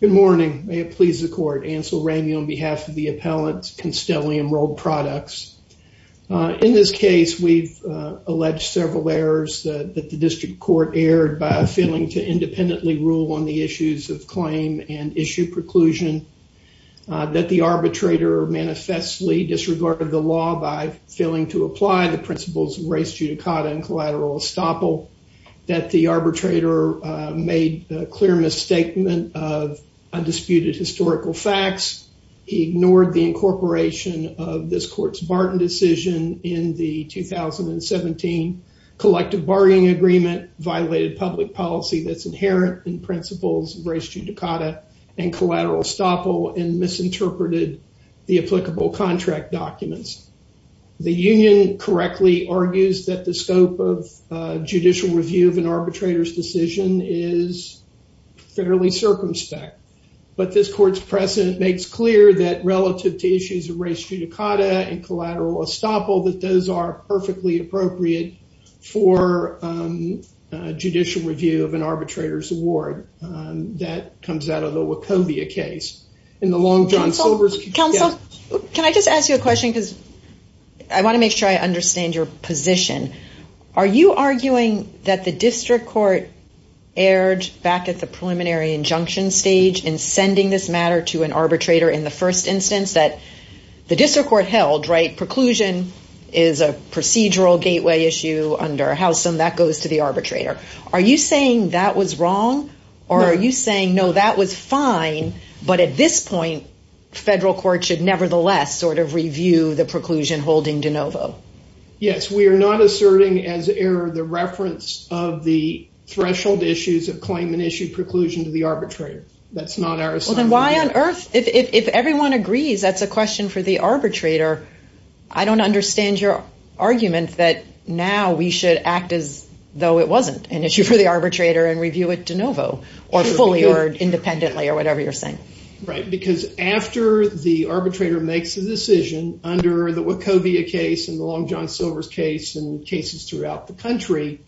Good morning. May it please the Court. Ansel Ramey on behalf of the Appellant's Constellium Rolled Products. In this case, we've alleged several errors that the District Court erred by failing to independently rule on the issues of claim and issue preclusion, that the arbitrator manifestly disregarded the law by failing to apply the principles of res judicata and collateral estoppel, that the arbitrator made a clear misstatement of undisputed historical facts, he ignored the incorporation of this Court's Barton decision in the 2017 collective bargaining agreement, violated public policy that's inherent in principles of res judicata and collateral estoppel, and misinterpreted the applicable contract documents. The union correctly argues that the scope of judicial review of an arbitrator's decision is fairly circumspect, but this Court's precedent makes clear that relative to issues of res judicata and collateral estoppel, that those are perfectly appropriate for judicial review of an arbitrator's award. That comes out of the Wachovia case. In the Long John Silvers... Counsel, can I just ask you a question because I want to make sure I understand. Are you saying that the district court erred back at the preliminary injunction stage in sending this matter to an arbitrator in the first instance, that the district court held, right, preclusion is a procedural gateway issue under a house and that goes to the arbitrator. Are you saying that was wrong, or are you saying, no, that was fine, but at this point, federal court should nevertheless sort of review the preclusion holding de novo? Yes, we have to make a difference of the threshold issues of claim and issue preclusion to the arbitrator. That's not our assignment. Then why on earth, if everyone agrees that's a question for the arbitrator, I don't understand your argument that now we should act as though it wasn't an issue for the arbitrator and review it de novo or fully or independently or whatever you're saying. Right, because after the arbitrator makes a decision under the Wachovia case and the Long Island case throughout the country,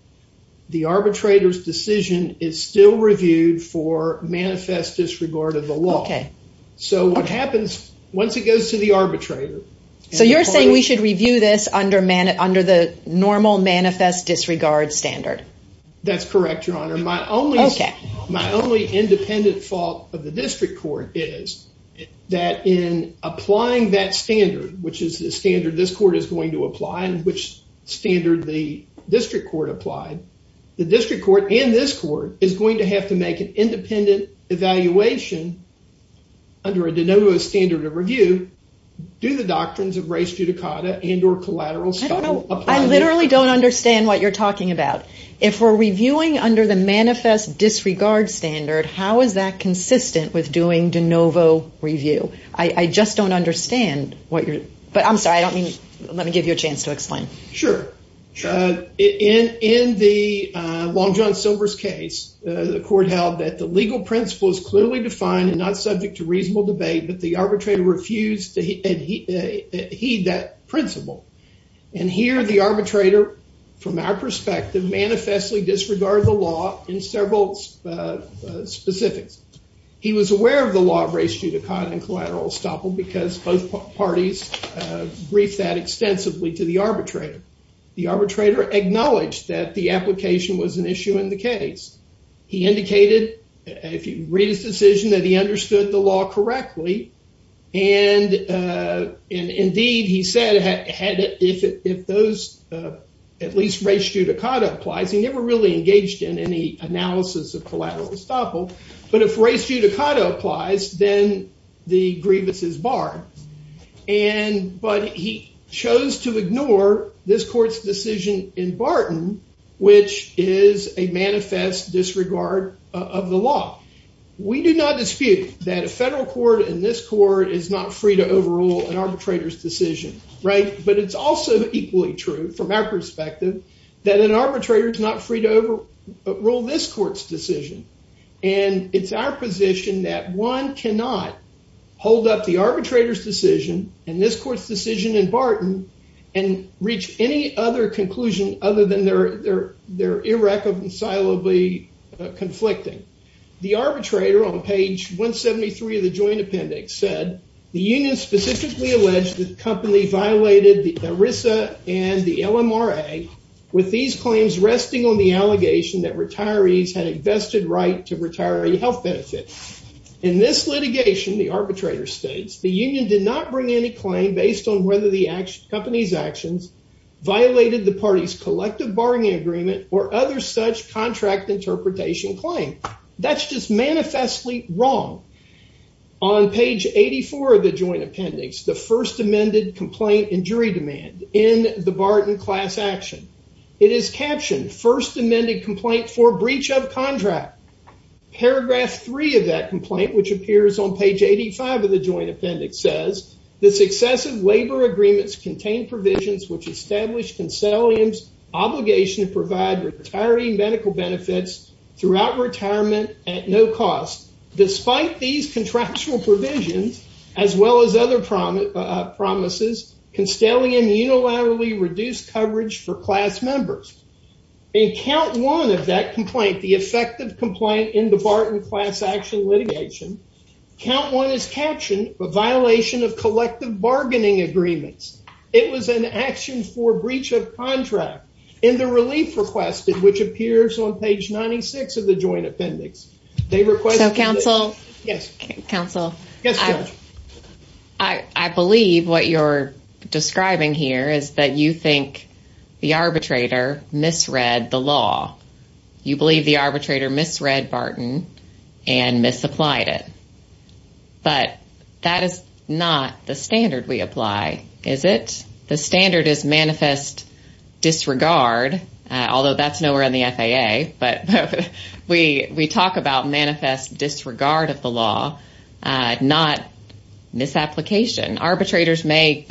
the arbitrator's decision is still reviewed for manifest disregard of the law. Okay. So what happens once it goes to the arbitrator? So you're saying we should review this under the normal manifest disregard standard? That's correct, Your Honor. My only independent fault of the district court is that in applying that standard, which is the standard this court is going to apply and which standard the district court applied, the district court and this court is going to have to make an independent evaluation under a de novo standard of review. Do the doctrines of res judicata and or collateral style apply? I literally don't understand what you're talking about. If we're reviewing under the manifest disregard standard, how is consistent with doing de novo review? I just don't understand what you're... But I'm sorry, I don't mean... Let me give you a chance to explain. Sure. In the Long John Silver's case, the court held that the legal principle is clearly defined and not subject to reasonable debate, but the arbitrator refused to heed that principle. And here the arbitrator, from our perspective, manifestly disregarded the law in several specifics. He was aware of the law of res judicata and collateral estoppel because both parties briefed that extensively to the arbitrator. The arbitrator acknowledged that the application was an issue in the case. He indicated, if you read his decision, that he understood the law correctly. And indeed, he said if those, at least res judicata applies, he never really engaged in any analysis of collateral estoppel, but if res judicata applies, then the grievance is barred. But he chose to ignore this court's decision in Barton, which is a manifest disregard of the law. We do not dispute that a federal court and this court is not free to overrule an arbitrator's decision, right? But it's also equally true, from our perspective, that an arbitrator is free to overrule this court's decision. And it's our position that one cannot hold up the arbitrator's decision and this court's decision in Barton and reach any other conclusion other than they're irreconcilably conflicting. The arbitrator, on page 173 of the joint appendix, said the union specifically alleged that the company violated the ERISA and the LMRA, with these claims resting on the allegation that retirees had invested right to retiree health benefits. In this litigation, the arbitrator states, the union did not bring any claim based on whether the company's actions violated the party's collective bargaining agreement or other such contract interpretation claim. That's just manifestly wrong. On page 84 of the joint appendix, the first amended complaint in jury demand in the Barton class action. It is captioned, first amended complaint for breach of contract. Paragraph 3 of that complaint, which appears on page 85 of the joint appendix, says the successive labor agreements contain provisions which established Constellium's obligation to provide retiree medical benefits throughout retirement at no cost. Despite these contractual provisions, as well as other promises, Constellium unilaterally reduced coverage for class members. In count one of that complaint, the effective complaint in the Barton class action litigation, count one is captioned, a violation of collective bargaining agreements. It was an action for breach of contract. In the relief requested, which appears on page 96 of the joint appendix, they requested- Yes, counsel. I believe what you're describing here is that you think the arbitrator misread the law. You believe the arbitrator misread Barton and misapplied it. But that is not the standard we apply, is it? The standard is manifest disregard, although that's nowhere in the FAA. But we we talk about manifest disregard of the law, not misapplication. Arbitrators may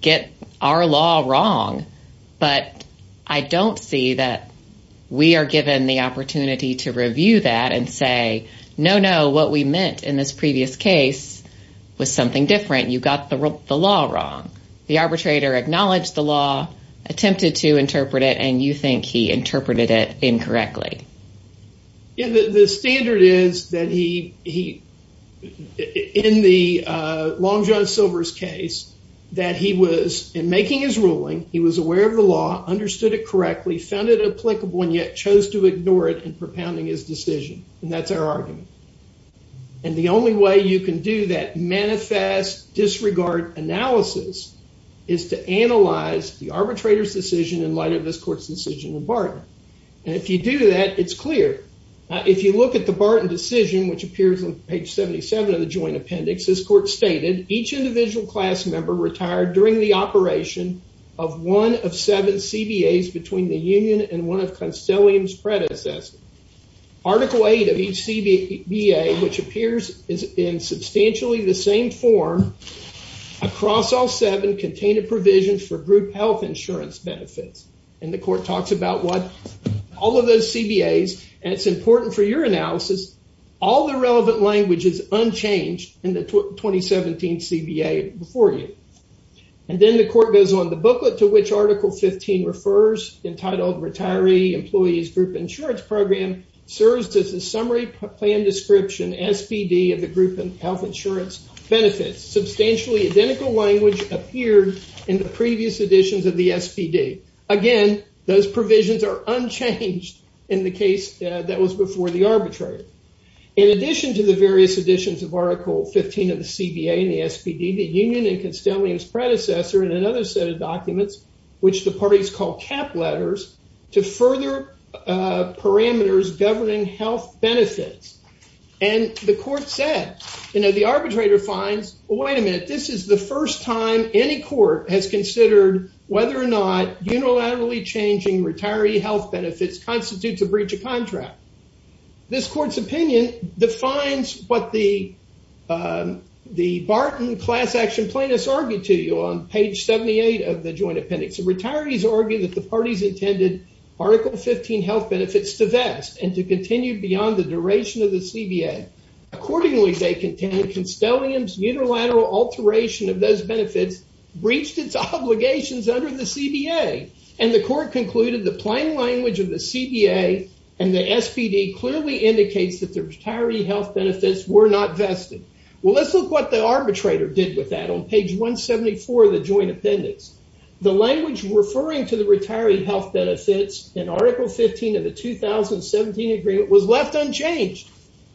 get our law wrong, but I don't see that we are given the opportunity to review that and say, no, no, what we meant in this previous case was something different. You got the law wrong. The arbitrator acknowledged the law, attempted to The standard is that he, in the Long John Silver's case, that he was, in making his ruling, he was aware of the law, understood it correctly, found it applicable, and yet chose to ignore it in propounding his decision. And that's our argument. And the only way you can do that manifest disregard analysis is to analyze the arbitrator's decision in light of this court's decision in Barton. And if you do that, it's clear. If you look at the Barton decision, which appears on page 77 of the joint appendix, this court stated, each individual class member retired during the operation of one of seven CBAs between the union and one of Constellium's predecessors. Article 8 of each CBA, which appears is in substantially the same form, across all seven contained a provision for group health insurance benefits. And the court talks about what, all of those CBAs, and it's important for your analysis, all the relevant language is unchanged in the 2017 CBA before you. And then the court goes on, the booklet to which Article 15 refers, entitled Retiree Employees Group Insurance Program, serves as a summary plan description, SPD, of the group and health insurance benefits. Substantially identical language appeared in the previous editions of the SPD. Again, those provisions are unchanged in the case that was before the arbitrator. In addition to the various editions of Article 15 of the CBA and the SPD, the union and Constellium's predecessor, and another set of documents, which the parties call cap letters, to further parameters governing health benefits. And the court said, you know, the arbitrator finds, wait a minute, this is the first time any court has considered whether or not unilaterally changing retiree health benefits constitutes a breach of contract. This court's opinion defines what the Barton class action plaintiffs argued to you on page 78 of the joint appendix. The retirees argue that the parties intended Article 15 health benefits to vest and to continue beyond the duration of the CBA. Accordingly, they contend Constellium's unilateral alteration of those benefits breached its obligations under the CBA. And the court concluded the plain language of the CBA and the SPD clearly indicates that the retiree health benefits were not vested. Well, let's look what the arbitrator did with that on page 174 of the joint appendix. The language referring to the retiree health benefits in Article 15 of the 2017 agreement was left unchanged.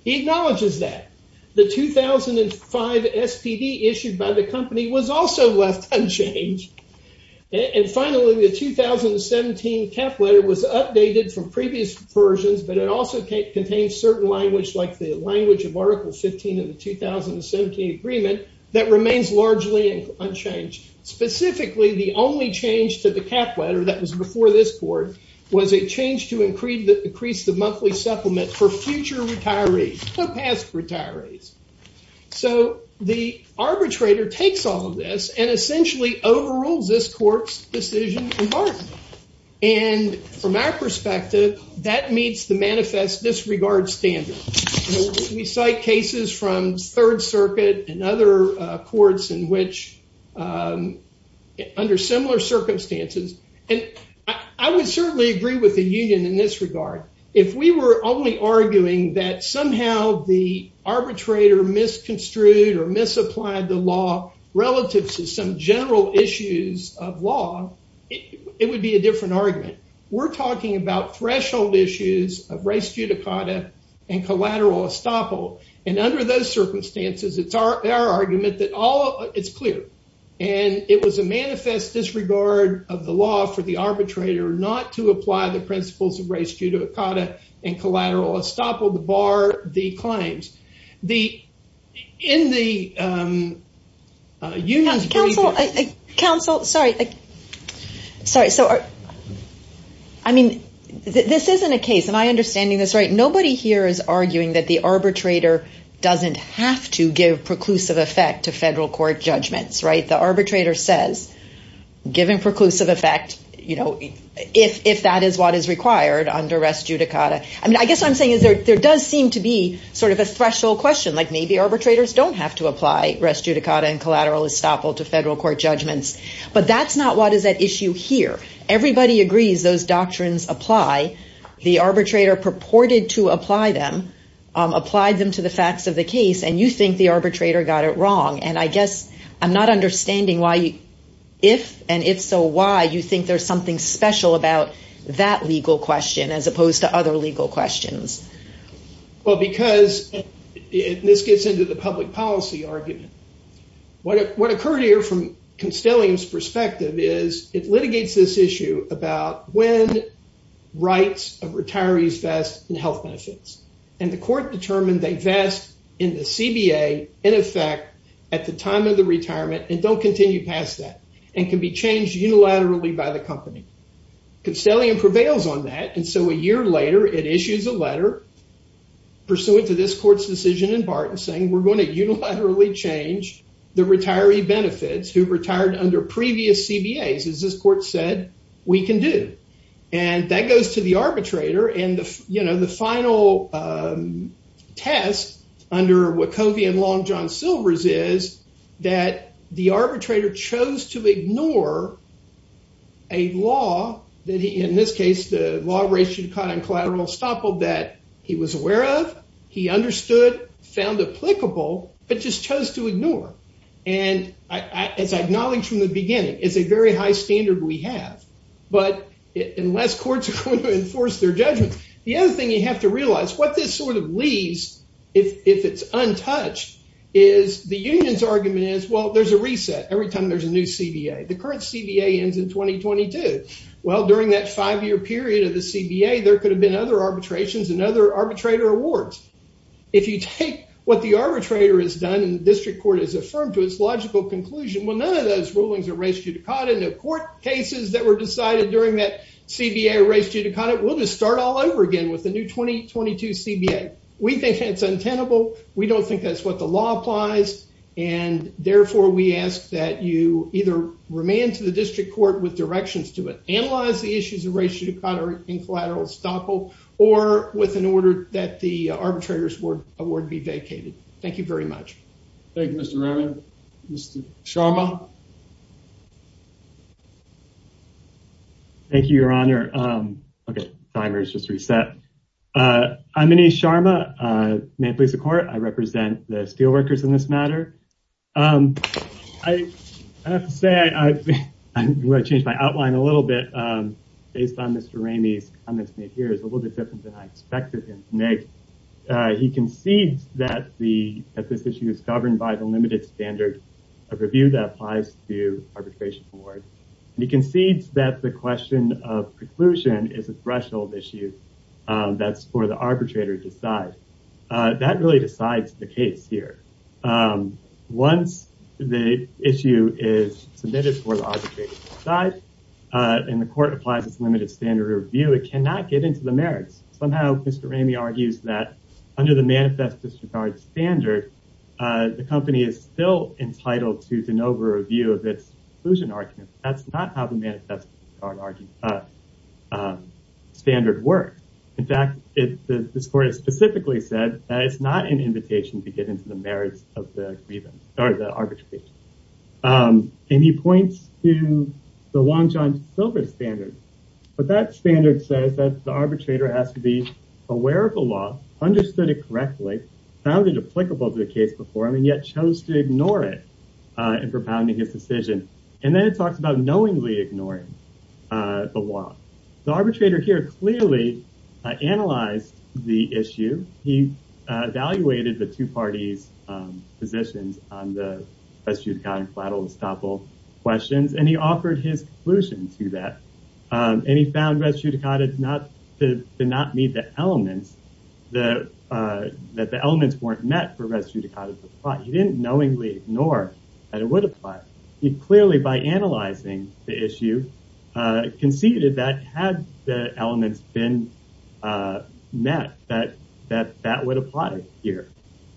He acknowledges that. The 2005 SPD issued by the company was also left unchanged. And finally, the 2017 cap letter was updated from previous versions, but it also contains certain language, like the language of Article 15 of the 2017 agreement, that remains largely unchanged. Specifically, the only change to the cap letter that was before this court was a change to increase the monthly supplement for future retirees, past retirees. So the arbitrator takes all of this and essentially overrules this court's decision in Barth. And from our perspective, that meets the manifest disregard standard. We cite cases from and I would certainly agree with the union in this regard. If we were only arguing that somehow the arbitrator misconstrued or misapplied the law relative to some general issues of law, it would be a different argument. We're talking about threshold issues of race judicata and collateral estoppel. And under those circumstances, it's our argument that all it's clear, and it was a manifest disregard of the law for the arbitrator not to apply the principles of race judicata and collateral estoppel to bar the claims. The, in the unions... Counsel, counsel, sorry. Sorry. So I mean, this isn't a case and I understanding this, right? Nobody here is arguing that the arbitrator doesn't have to give preclusive effect to federal court judgments, right? The giving preclusive effect, you know, if that is what is required under race judicata. I mean, I guess what I'm saying is there does seem to be sort of a threshold question, like maybe arbitrators don't have to apply race judicata and collateral estoppel to federal court judgments. But that's not what is at issue here. Everybody agrees those doctrines apply. The arbitrator purported to apply them, applied them to the facts of the case, and you think the if and if so, why you think there's something special about that legal question as opposed to other legal questions? Well, because this gets into the public policy argument. What occurred here from Constellium's perspective is it litigates this issue about when rights of retirees vest in health benefits, and the court determined they vest in the and can be changed unilaterally by the company. Constellium prevails on that. And so a year later, it issues a letter pursuant to this court's decision in Barton saying we're going to unilaterally change the retiree benefits who retired under previous CBAs, as this court said, we can do. And that goes to the arbitrator. And, you know, the final test under Wachovian Law and John Wachovian Law, he chose to ignore a law that he, in this case, the law ratio caught on collateral estoppel that he was aware of, he understood, found applicable, but just chose to ignore. And as I acknowledged from the beginning, it's a very high standard we have. But unless courts are going to enforce their judgment, the other thing you have to realize what this sort of leaves, if it's The current CBA ends in 2022. Well, during that five year period of the CBA, there could have been other arbitrations and other arbitrator awards. If you take what the arbitrator has done in the district court is affirmed to its logical conclusion. Well, none of those rulings are raised to the cot in the court cases that were decided during that CBA raised you to cut it. We'll just start all over again with the new 2022 CBA. We think it's untenable. We don't think that's the law applies, and therefore we ask that you either remain to the district court with directions to it, analyze the issues of ratio to cut or in collateral estoppel or with an order that the arbitrators were award be vacated. Thank you very much. Thank you, Mr. Raman. Mr Sharma. Thank you, Your Honor. Um, okay. Timers just reset. Uh, I'm in a Sharma, uh, police of court. I represent the steelworkers in this matter. Um, I have to say, I'm gonna change my outline a little bit. Um, based on Mr Ramey's comments made here is a little bit different than I expected him to make. He concedes that the at this issue is governed by the limited standard of review that applies to arbitration award. He concedes that the question of that really decides the case here. Um, once the issue is submitted for the arbitration side, uh, and the court applies its limited standard review, it cannot get into the merits. Somehow, Mr Ramey argues that under the manifest disregard standard, uh, the company is still entitled to de novo review of its inclusion argument. That's not how the manifest our argument, uh, standard works. In fact, this court has specifically said that it's not an invitation to get into the merits of the grievance or the arbitration. Um, and he points to the long John Silver standard, but that standard says that the arbitrator has to be aware of the law, understood it correctly, found it applicable to the case before him and yet chose to ignore it, uh, and propounding his decision. And then it talks about knowingly ignoring, uh, the arbitrator here clearly analyzed the issue. He, uh, evaluated the two parties, um, positions on the best you've gotten flattel and stopple questions, and he offered his conclusion to that. Um, and he found res judicata not to not meet the elements, the, uh, that the elements weren't met for res judicata, but he didn't knowingly ignore that it would apply. He clearly by analyzing the issue, uh, conceded that had the elements been, uh, met that that that would apply here.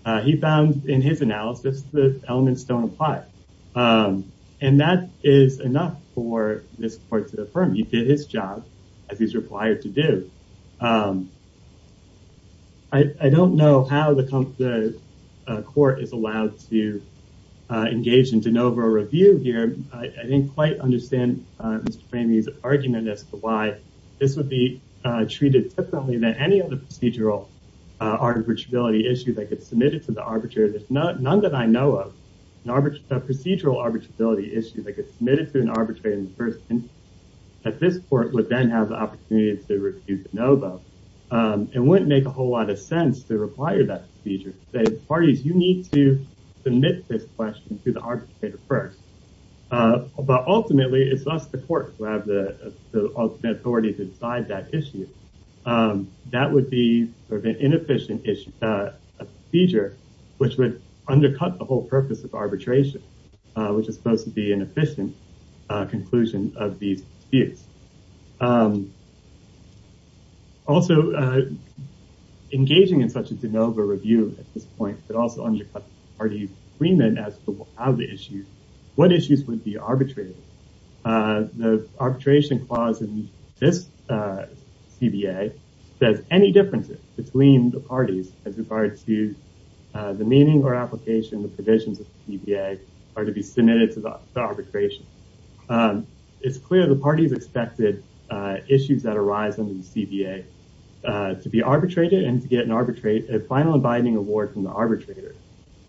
Uh, he found in his analysis, the elements don't apply. Um, and that is enough for this court to affirm. You did his job as he's required to do. Um, I don't know how the, uh, court is allowed to, uh, engage in DeNovo review here. I didn't quite understand, uh, Mr. Framie's argument as to why this would be, uh, treated differently than any other procedural, uh, arbitrability issue that gets submitted to the arbitrator. There's not none that I know of an arbitrate, a procedural arbitrability issue that gets submitted to an arbitrator in the first instance that this court would then have the opportunity to review DeNovo. Um, it wouldn't make a whole lot of sense to require that feature that parties, you need to submit this question to the arbitrator first. Uh, but ultimately it's us, the court who have the ultimate authority to decide that issue. Um, that would be sort of an inefficient issue, uh, a feature, which would undercut the whole purpose of arbitration, uh, which is supposed to be an efficient, uh, conclusion of these disputes. Um, also, uh, engaging in such a DeNovo review at this point, but also undercut the party's agreement as to how the issue, what issues would be arbitrated? Uh, the arbitration clause in this, uh, CBA says any differences between the parties as regards to, uh, the meaning or application, the provisions of CBA are to be submitted to the arbitration. Um, it's clear the parties expected, uh, issues that arise under the CBA, uh, to be arbitrated and to get an arbitrate, a final abiding award from the arbitrator.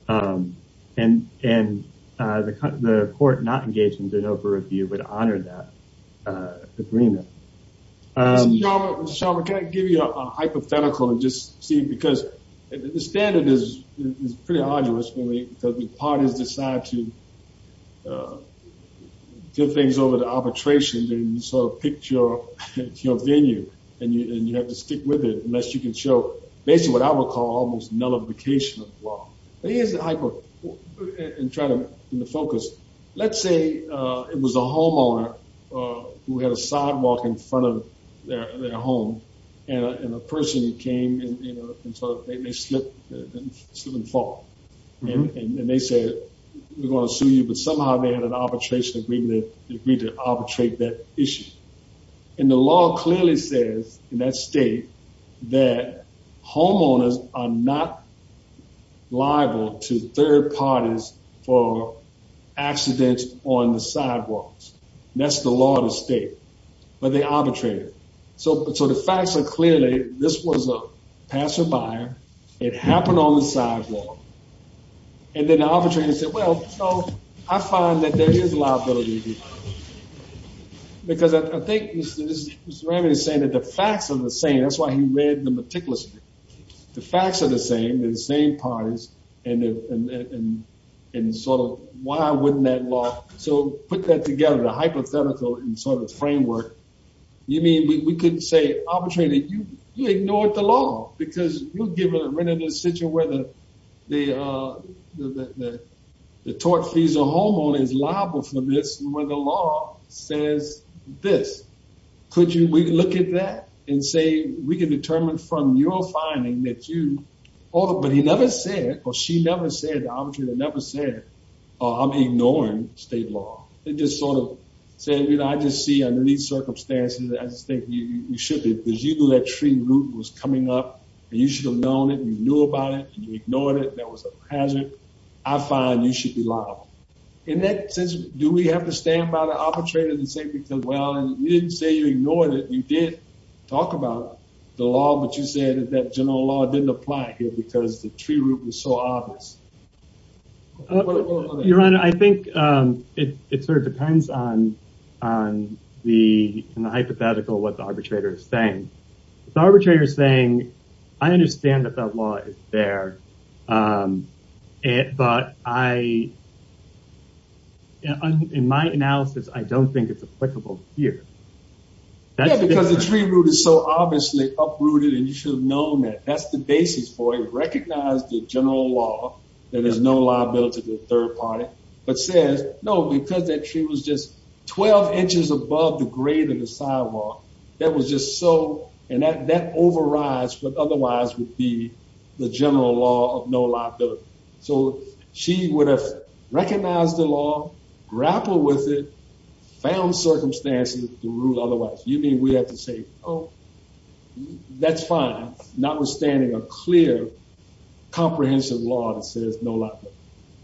Um, and, and, uh, the, the court not engaged in DeNovo review would honor that, uh, agreement. Um, can I give you a hypothetical and just see, because the standard is pretty arduous because the parties decide to, uh, get things over to arbitration and sort of pick your, your venue and you, and you have to stick with it unless you can show basically what I would call almost nullification of the law. But here's the hypo and try to, in the focus, let's say, uh, it was a homeowner, uh, who had a sidewalk in front of their, their home and a, and he came and, you know, and so they, they slip slip and fall and they said, we're going to sue you. But somehow they had an arbitration agreement. They agreed to arbitrate that issue. And the law clearly says in that state that homeowners are not liable to third parties for accidents on the sidewalks. That's the law of the state, but they arbitrated. So, so the facts are clearly, this was a passer by, it happened on the sidewalk. And then the arbitrator said, well, so I find that there is liability because I think Mr. Ramey is saying that the facts are the same, that's why he read the meticulous, the facts are the same, the same parties, and, and, and, and sort of why wouldn't that law, so put that together, the hypothetical and sort of framework, you mean we couldn't say arbitrator, you ignored the law because you'll give a written decision where the, the, uh, the, the, the tort fees, a homeowner is liable for this, where the law says this, could you, we can look at that and say, we can determine from your finding that you ought to, but he never said, or she never said, the arbitrator never said, oh, I'm ignoring state law. It just sort of said, you know, I just see under these circumstances, I just think you should be, because you knew that tree root was coming up and you should have known it and you knew about it and you ignored it. That was a hazard. I find you should be liable in that sense. Do we have to stand by the arbitrator and say, because, well, you didn't say you ignored it, you did talk about the law, but you said that general law didn't apply here because the tree root was so obvious. Your Honor, I think, um, it, it sort of depends on, on the, in the hypothetical, what the arbitrator is saying. The arbitrator is saying, I understand that that law is there. Um, but I, in my analysis, I don't think it's applicable here. Yeah, because the tree root is so obviously uprooted and you should have known that that's the basis for it. I think you should have recognized the general law, that there's no liability to the third party, but says, no, because that tree was just 12 inches above the grade of the sidewalk. That was just so, and that, that overrides what otherwise would be the general law of no liability. So she would have recognized the law, grappled with it, found circumstances to rule otherwise. You mean we have to say, Oh, that's fine. Notwithstanding a clear, comprehensive law that says no liability.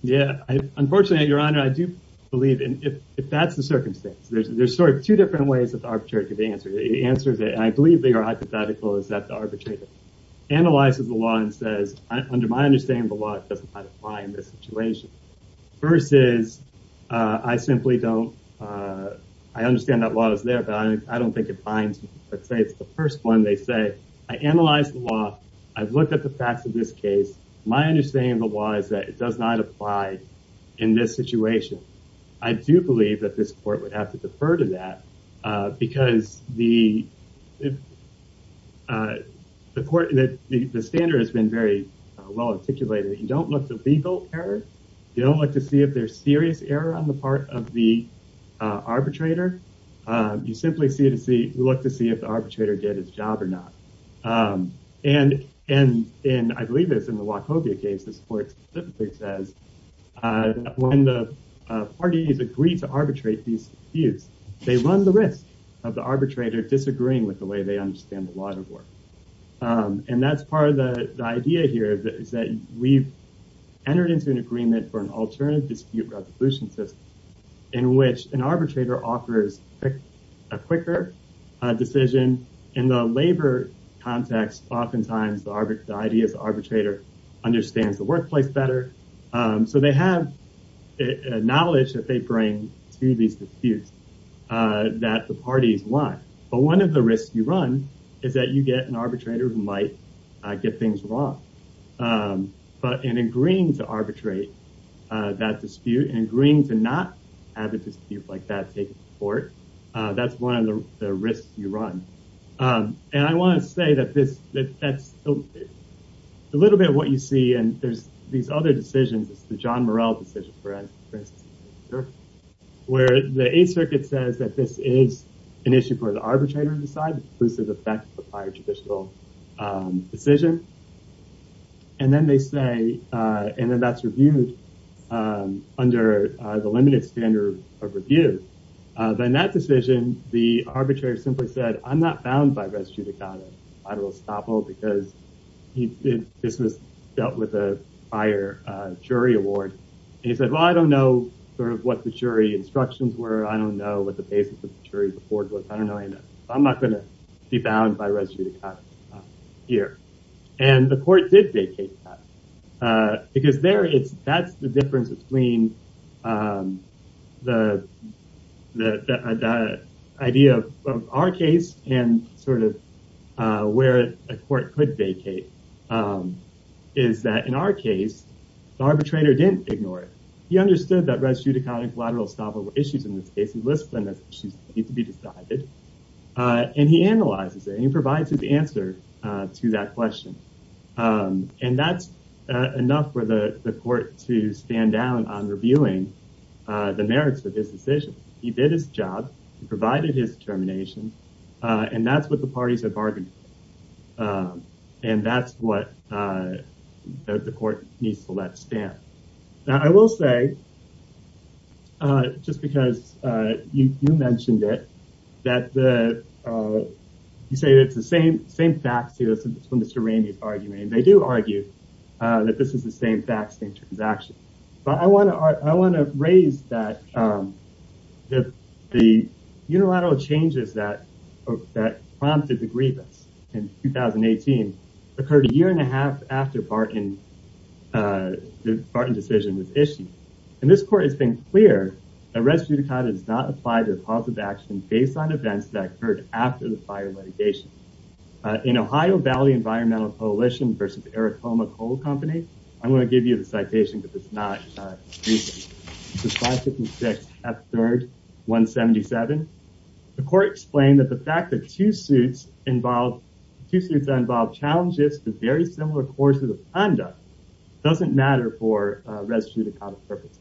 Yeah. Unfortunately, Your Honor, I do believe if that's the circumstance, there's, there's sort of two different ways that the arbitrator could answer. The answer is that I believe they are hypothetical is that the arbitrator analyzes the law and says, under my understanding of the law, it doesn't apply in this situation versus, uh, I simply don't, uh, I understand that the law is there, but I don't think it binds, let's say it's the first one. They say, I analyze the law. I've looked at the facts of this case. My understanding of the law is that it does not apply in this situation. I do believe that this court would have to defer to that. Uh, because the, uh, the court, the standard has been very well articulated. You don't look to legal error. You don't like to see if there's serious error on the part of the arbitrator. You simply see it to see, look to see if the arbitrator did his job or not. Um, and, and, and I believe it's in the Wachovia case, the sports says, uh, when the parties agreed to arbitrate these views, they run the risk of the arbitrator disagreeing with the way they understand the law to work. Um, and that's part of the idea here is that we've entered into an agreement for an alternative dispute resolution system in which an a quicker decision in the labor context. Oftentimes the arbitrary, the idea is the arbitrator understands the workplace better. Um, so they have knowledge that they bring to these disputes, uh, that the parties want, but one of the risks you run is that you get an arbitrator who might get things wrong. Um, but in agreeing to arbitrate, uh, that dispute and agreeing to not have a dispute like that take court, uh, that's one of the risks you run. Um, and I want to say that this, that that's a little bit of what you see. And there's these other decisions. It's the John Morrell decision for instance, where the eight circuit says that this is an issue for the arbitrator to decide inclusive effect of higher judicial, um, decision. And then they say, uh, and then that's reviewed, um, under the limited standard of review. Uh, then that decision, the arbitrator simply said, I'm not bound by res judicata. I will stop all because he did, this was dealt with a higher, uh, jury award. He said, well, I don't know sort of what the jury instructions were. I don't know what the basis of the jury report was. I don't know. I know I'm not going to be bound by res judicata here. And the court did vacate, uh, because there it's, that's the difference between, um, the, the, the idea of our case and sort of, uh, where a court could vacate, um, is that in our case, the arbitrator didn't ignore it. He understood that res judicata and collateral estoppel were issues in this case, he lists them as issues that need to be decided. Uh, and he analyzes it and he provides his answer, uh, to that question. Um, and that's, uh, enough for the court to stand down on reviewing, uh, the merits of his decision. He did his job, he provided his determination, uh, and that's what the parties have bargained. Um, and that's what, uh, the court needs to let stand. Now I will say, uh, just because, uh, you, you mentioned it, that the, uh, you mentioned Mr. Ramey's argument and they do argue, uh, that this is the same fact, same transaction, but I want to, I want to raise that, um, that the unilateral changes that prompted the grievance in 2018 occurred a year and a half after Barton, uh, the Barton decision was issued. And this court has been clear that res judicata does not apply to the positive action based on events that occurred after the fire litigation, uh, in Ohio Valley Environmental Coalition versus Aratoma Coal Company. I'm going to give you the citation, but it's not, uh, this is 556 F3rd 177. The court explained that the fact that two suits involved, two suits that involve challenges to very similar courses of conduct doesn't matter for a res judicata purpose.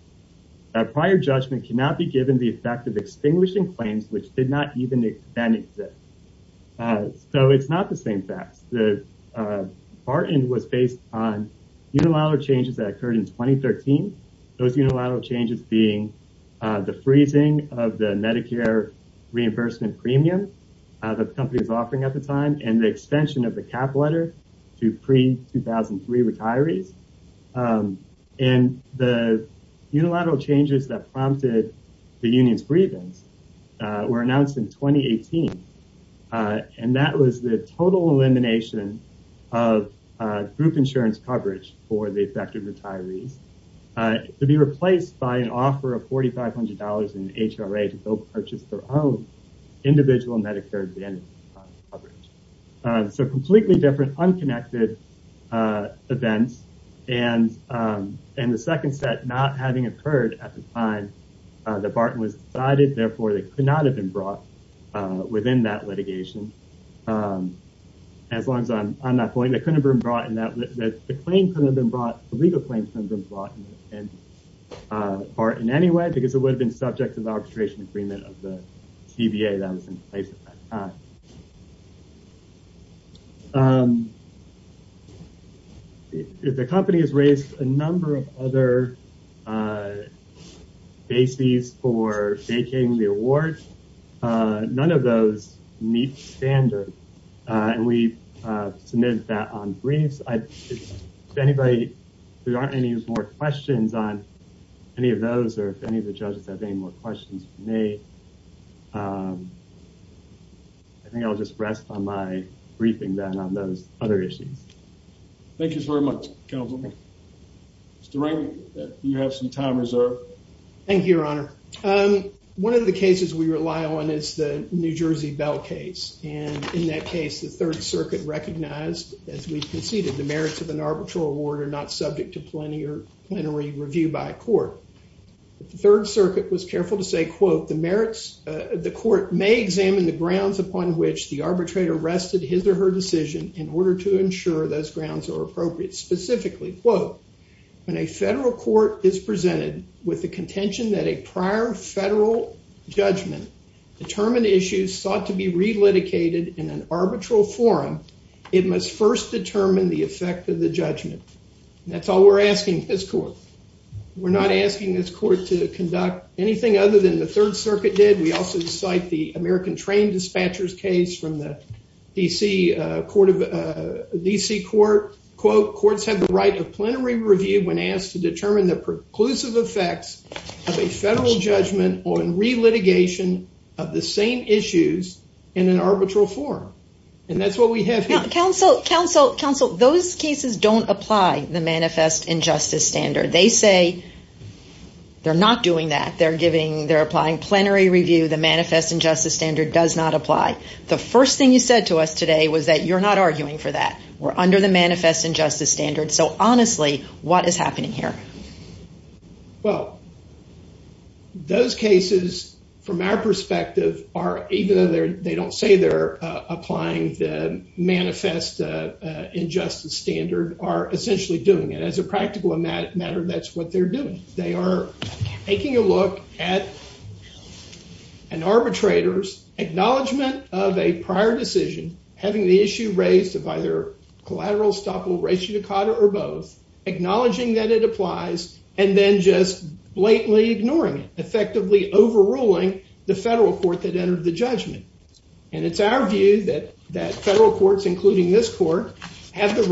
A prior judgment cannot be given the effect of extinguishing claims, which did not even then exist. Uh, so it's not the same facts that, uh, Barton was based on unilateral changes that occurred in 2013. Those unilateral changes being, uh, the freezing of the Medicare reimbursement premium, uh, that the company was offering at the time and the extension of the cap letter to pre 2003 retirees. Um, and the unilateral changes that prompted the union's grievance, uh, were announced in 2018, uh, and that was the total elimination of, uh, group insurance coverage for the affected retirees, uh, to be replaced by an offer of $4,500 in HRA to go purchase their own individual Medicare advantage. Uh, so completely different unconnected, uh, events and, um, and the second set not having occurred at the time. Uh, the Barton was decided. Therefore they could not have been brought, uh, within that litigation. Um, as long as I'm, I'm not going, they couldn't have been brought in that the claim couldn't have been brought, the legal claims couldn't have been brought in, uh, or in any way, because it would have been subject to the arbitration agreement of the CBA that was in place at that time. Um, if the company has raised a number of other, uh, bases for taking the award, uh, none of those meet standard. Uh, and we, uh, submitted that on briefs. I, if anybody, there aren't any more questions on any of those, or if any of the judges have any more questions for me, um, I think I'll just rest on my briefing then on those other issues. Thank you very much. Councilman. Mr. Rankin, you have some time reserved. Thank you, Your Honor. Um, one of the cases we rely on is the New Jersey Bell case. And in that case, the third circuit recognized, as we've conceded, the merits of an arbitral award are not subject to plenary review by a court. The third circuit was careful to say, quote, the merits, uh, the court may examine the grounds upon which the arbitrator rested his or her decision in order to ensure those grounds are appropriate, specifically, quote, when a federal court is presented with the contention that a prior federal judgment determined issues sought to be relitigated in an arbitral forum, it must first determine the effect of the judgment, and that's all we're asking this court, we're not asking this court to conduct anything other than the third circuit did. We also cite the American train dispatchers case from the DC, uh, court of, uh, DC court, quote, courts have the right of plenary review when asked to determine the preclusive effects of a federal judgment on relitigation of the same issues in an arbitral forum. And that's what we have here. Counsel, counsel, counsel, those cases don't apply the manifest injustice standard. They say they're not doing that. They're giving, they're applying plenary review. The manifest injustice standard does not apply. The first thing you said to us today was that you're not arguing for that. We're under the manifest injustice standard. So honestly, what is happening here? Well, those cases from our perspective are, even though they're, they don't say they're applying the manifest injustice standard, are essentially doing it. As a practical matter, that's what they're doing. They are taking a look at an arbitrator's acknowledgment of a prior decision, having the issue raised of either collateral, stoppable, ratio, decada, or both, acknowledging that it applies, and then just blatantly ignoring it, effectively overruling the federal court that entered the judgment. And it's our view that, that federal courts, including this court, have the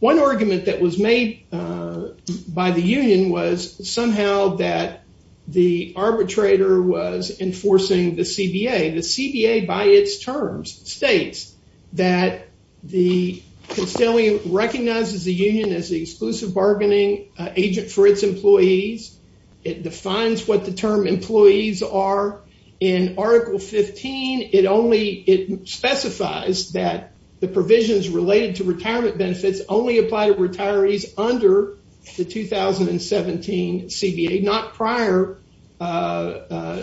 One argument that was made by the union was somehow that the arbitrator was enforcing the CBA. The CBA, by its terms, states that the constituent recognizes the union as the exclusive bargaining agent for its employees. It defines what the term employees are. In article 15, it only, it specifies that the provisions related to retirement benefits only apply to retirees under the 2017 CBA, not prior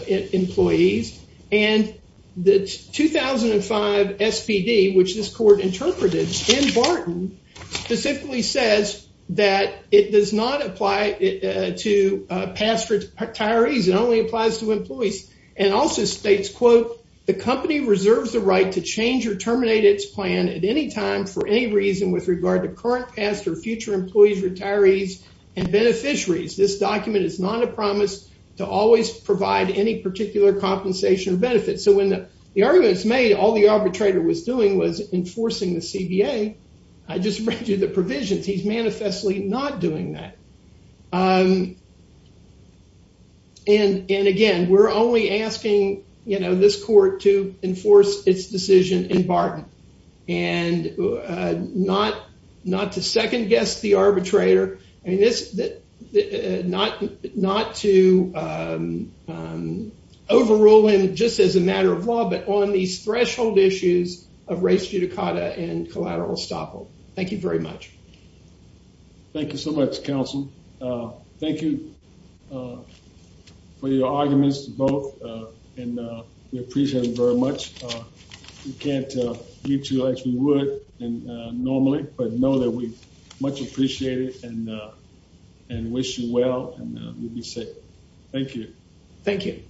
employees. And the 2005 SPD, which this court interpreted in Barton, specifically says that it does not apply to past retirees, it only applies to employees. And also states, quote, the company reserves the right to change or change its terms and conditions with regard to current, past, or future employees, retirees, and beneficiaries. This document is not a promise to always provide any particular compensation or benefit. So when the argument was made, all the arbitrator was doing was enforcing the CBA, I just read you the provisions. He's manifestly not doing that. And again, we're only asking, you know, this court to enforce its decision in not to second guess the arbitrator and not to overrule him just as a matter of law, but on these threshold issues of race judicata and collateral estoppel. Thank you very much. Thank you so much, counsel. Thank you for your arguments both, and we appreciate it very much. We can't meet you as we would normally, but know that we much appreciate it and wish you well and you'll be safe. Thank you. Thank you.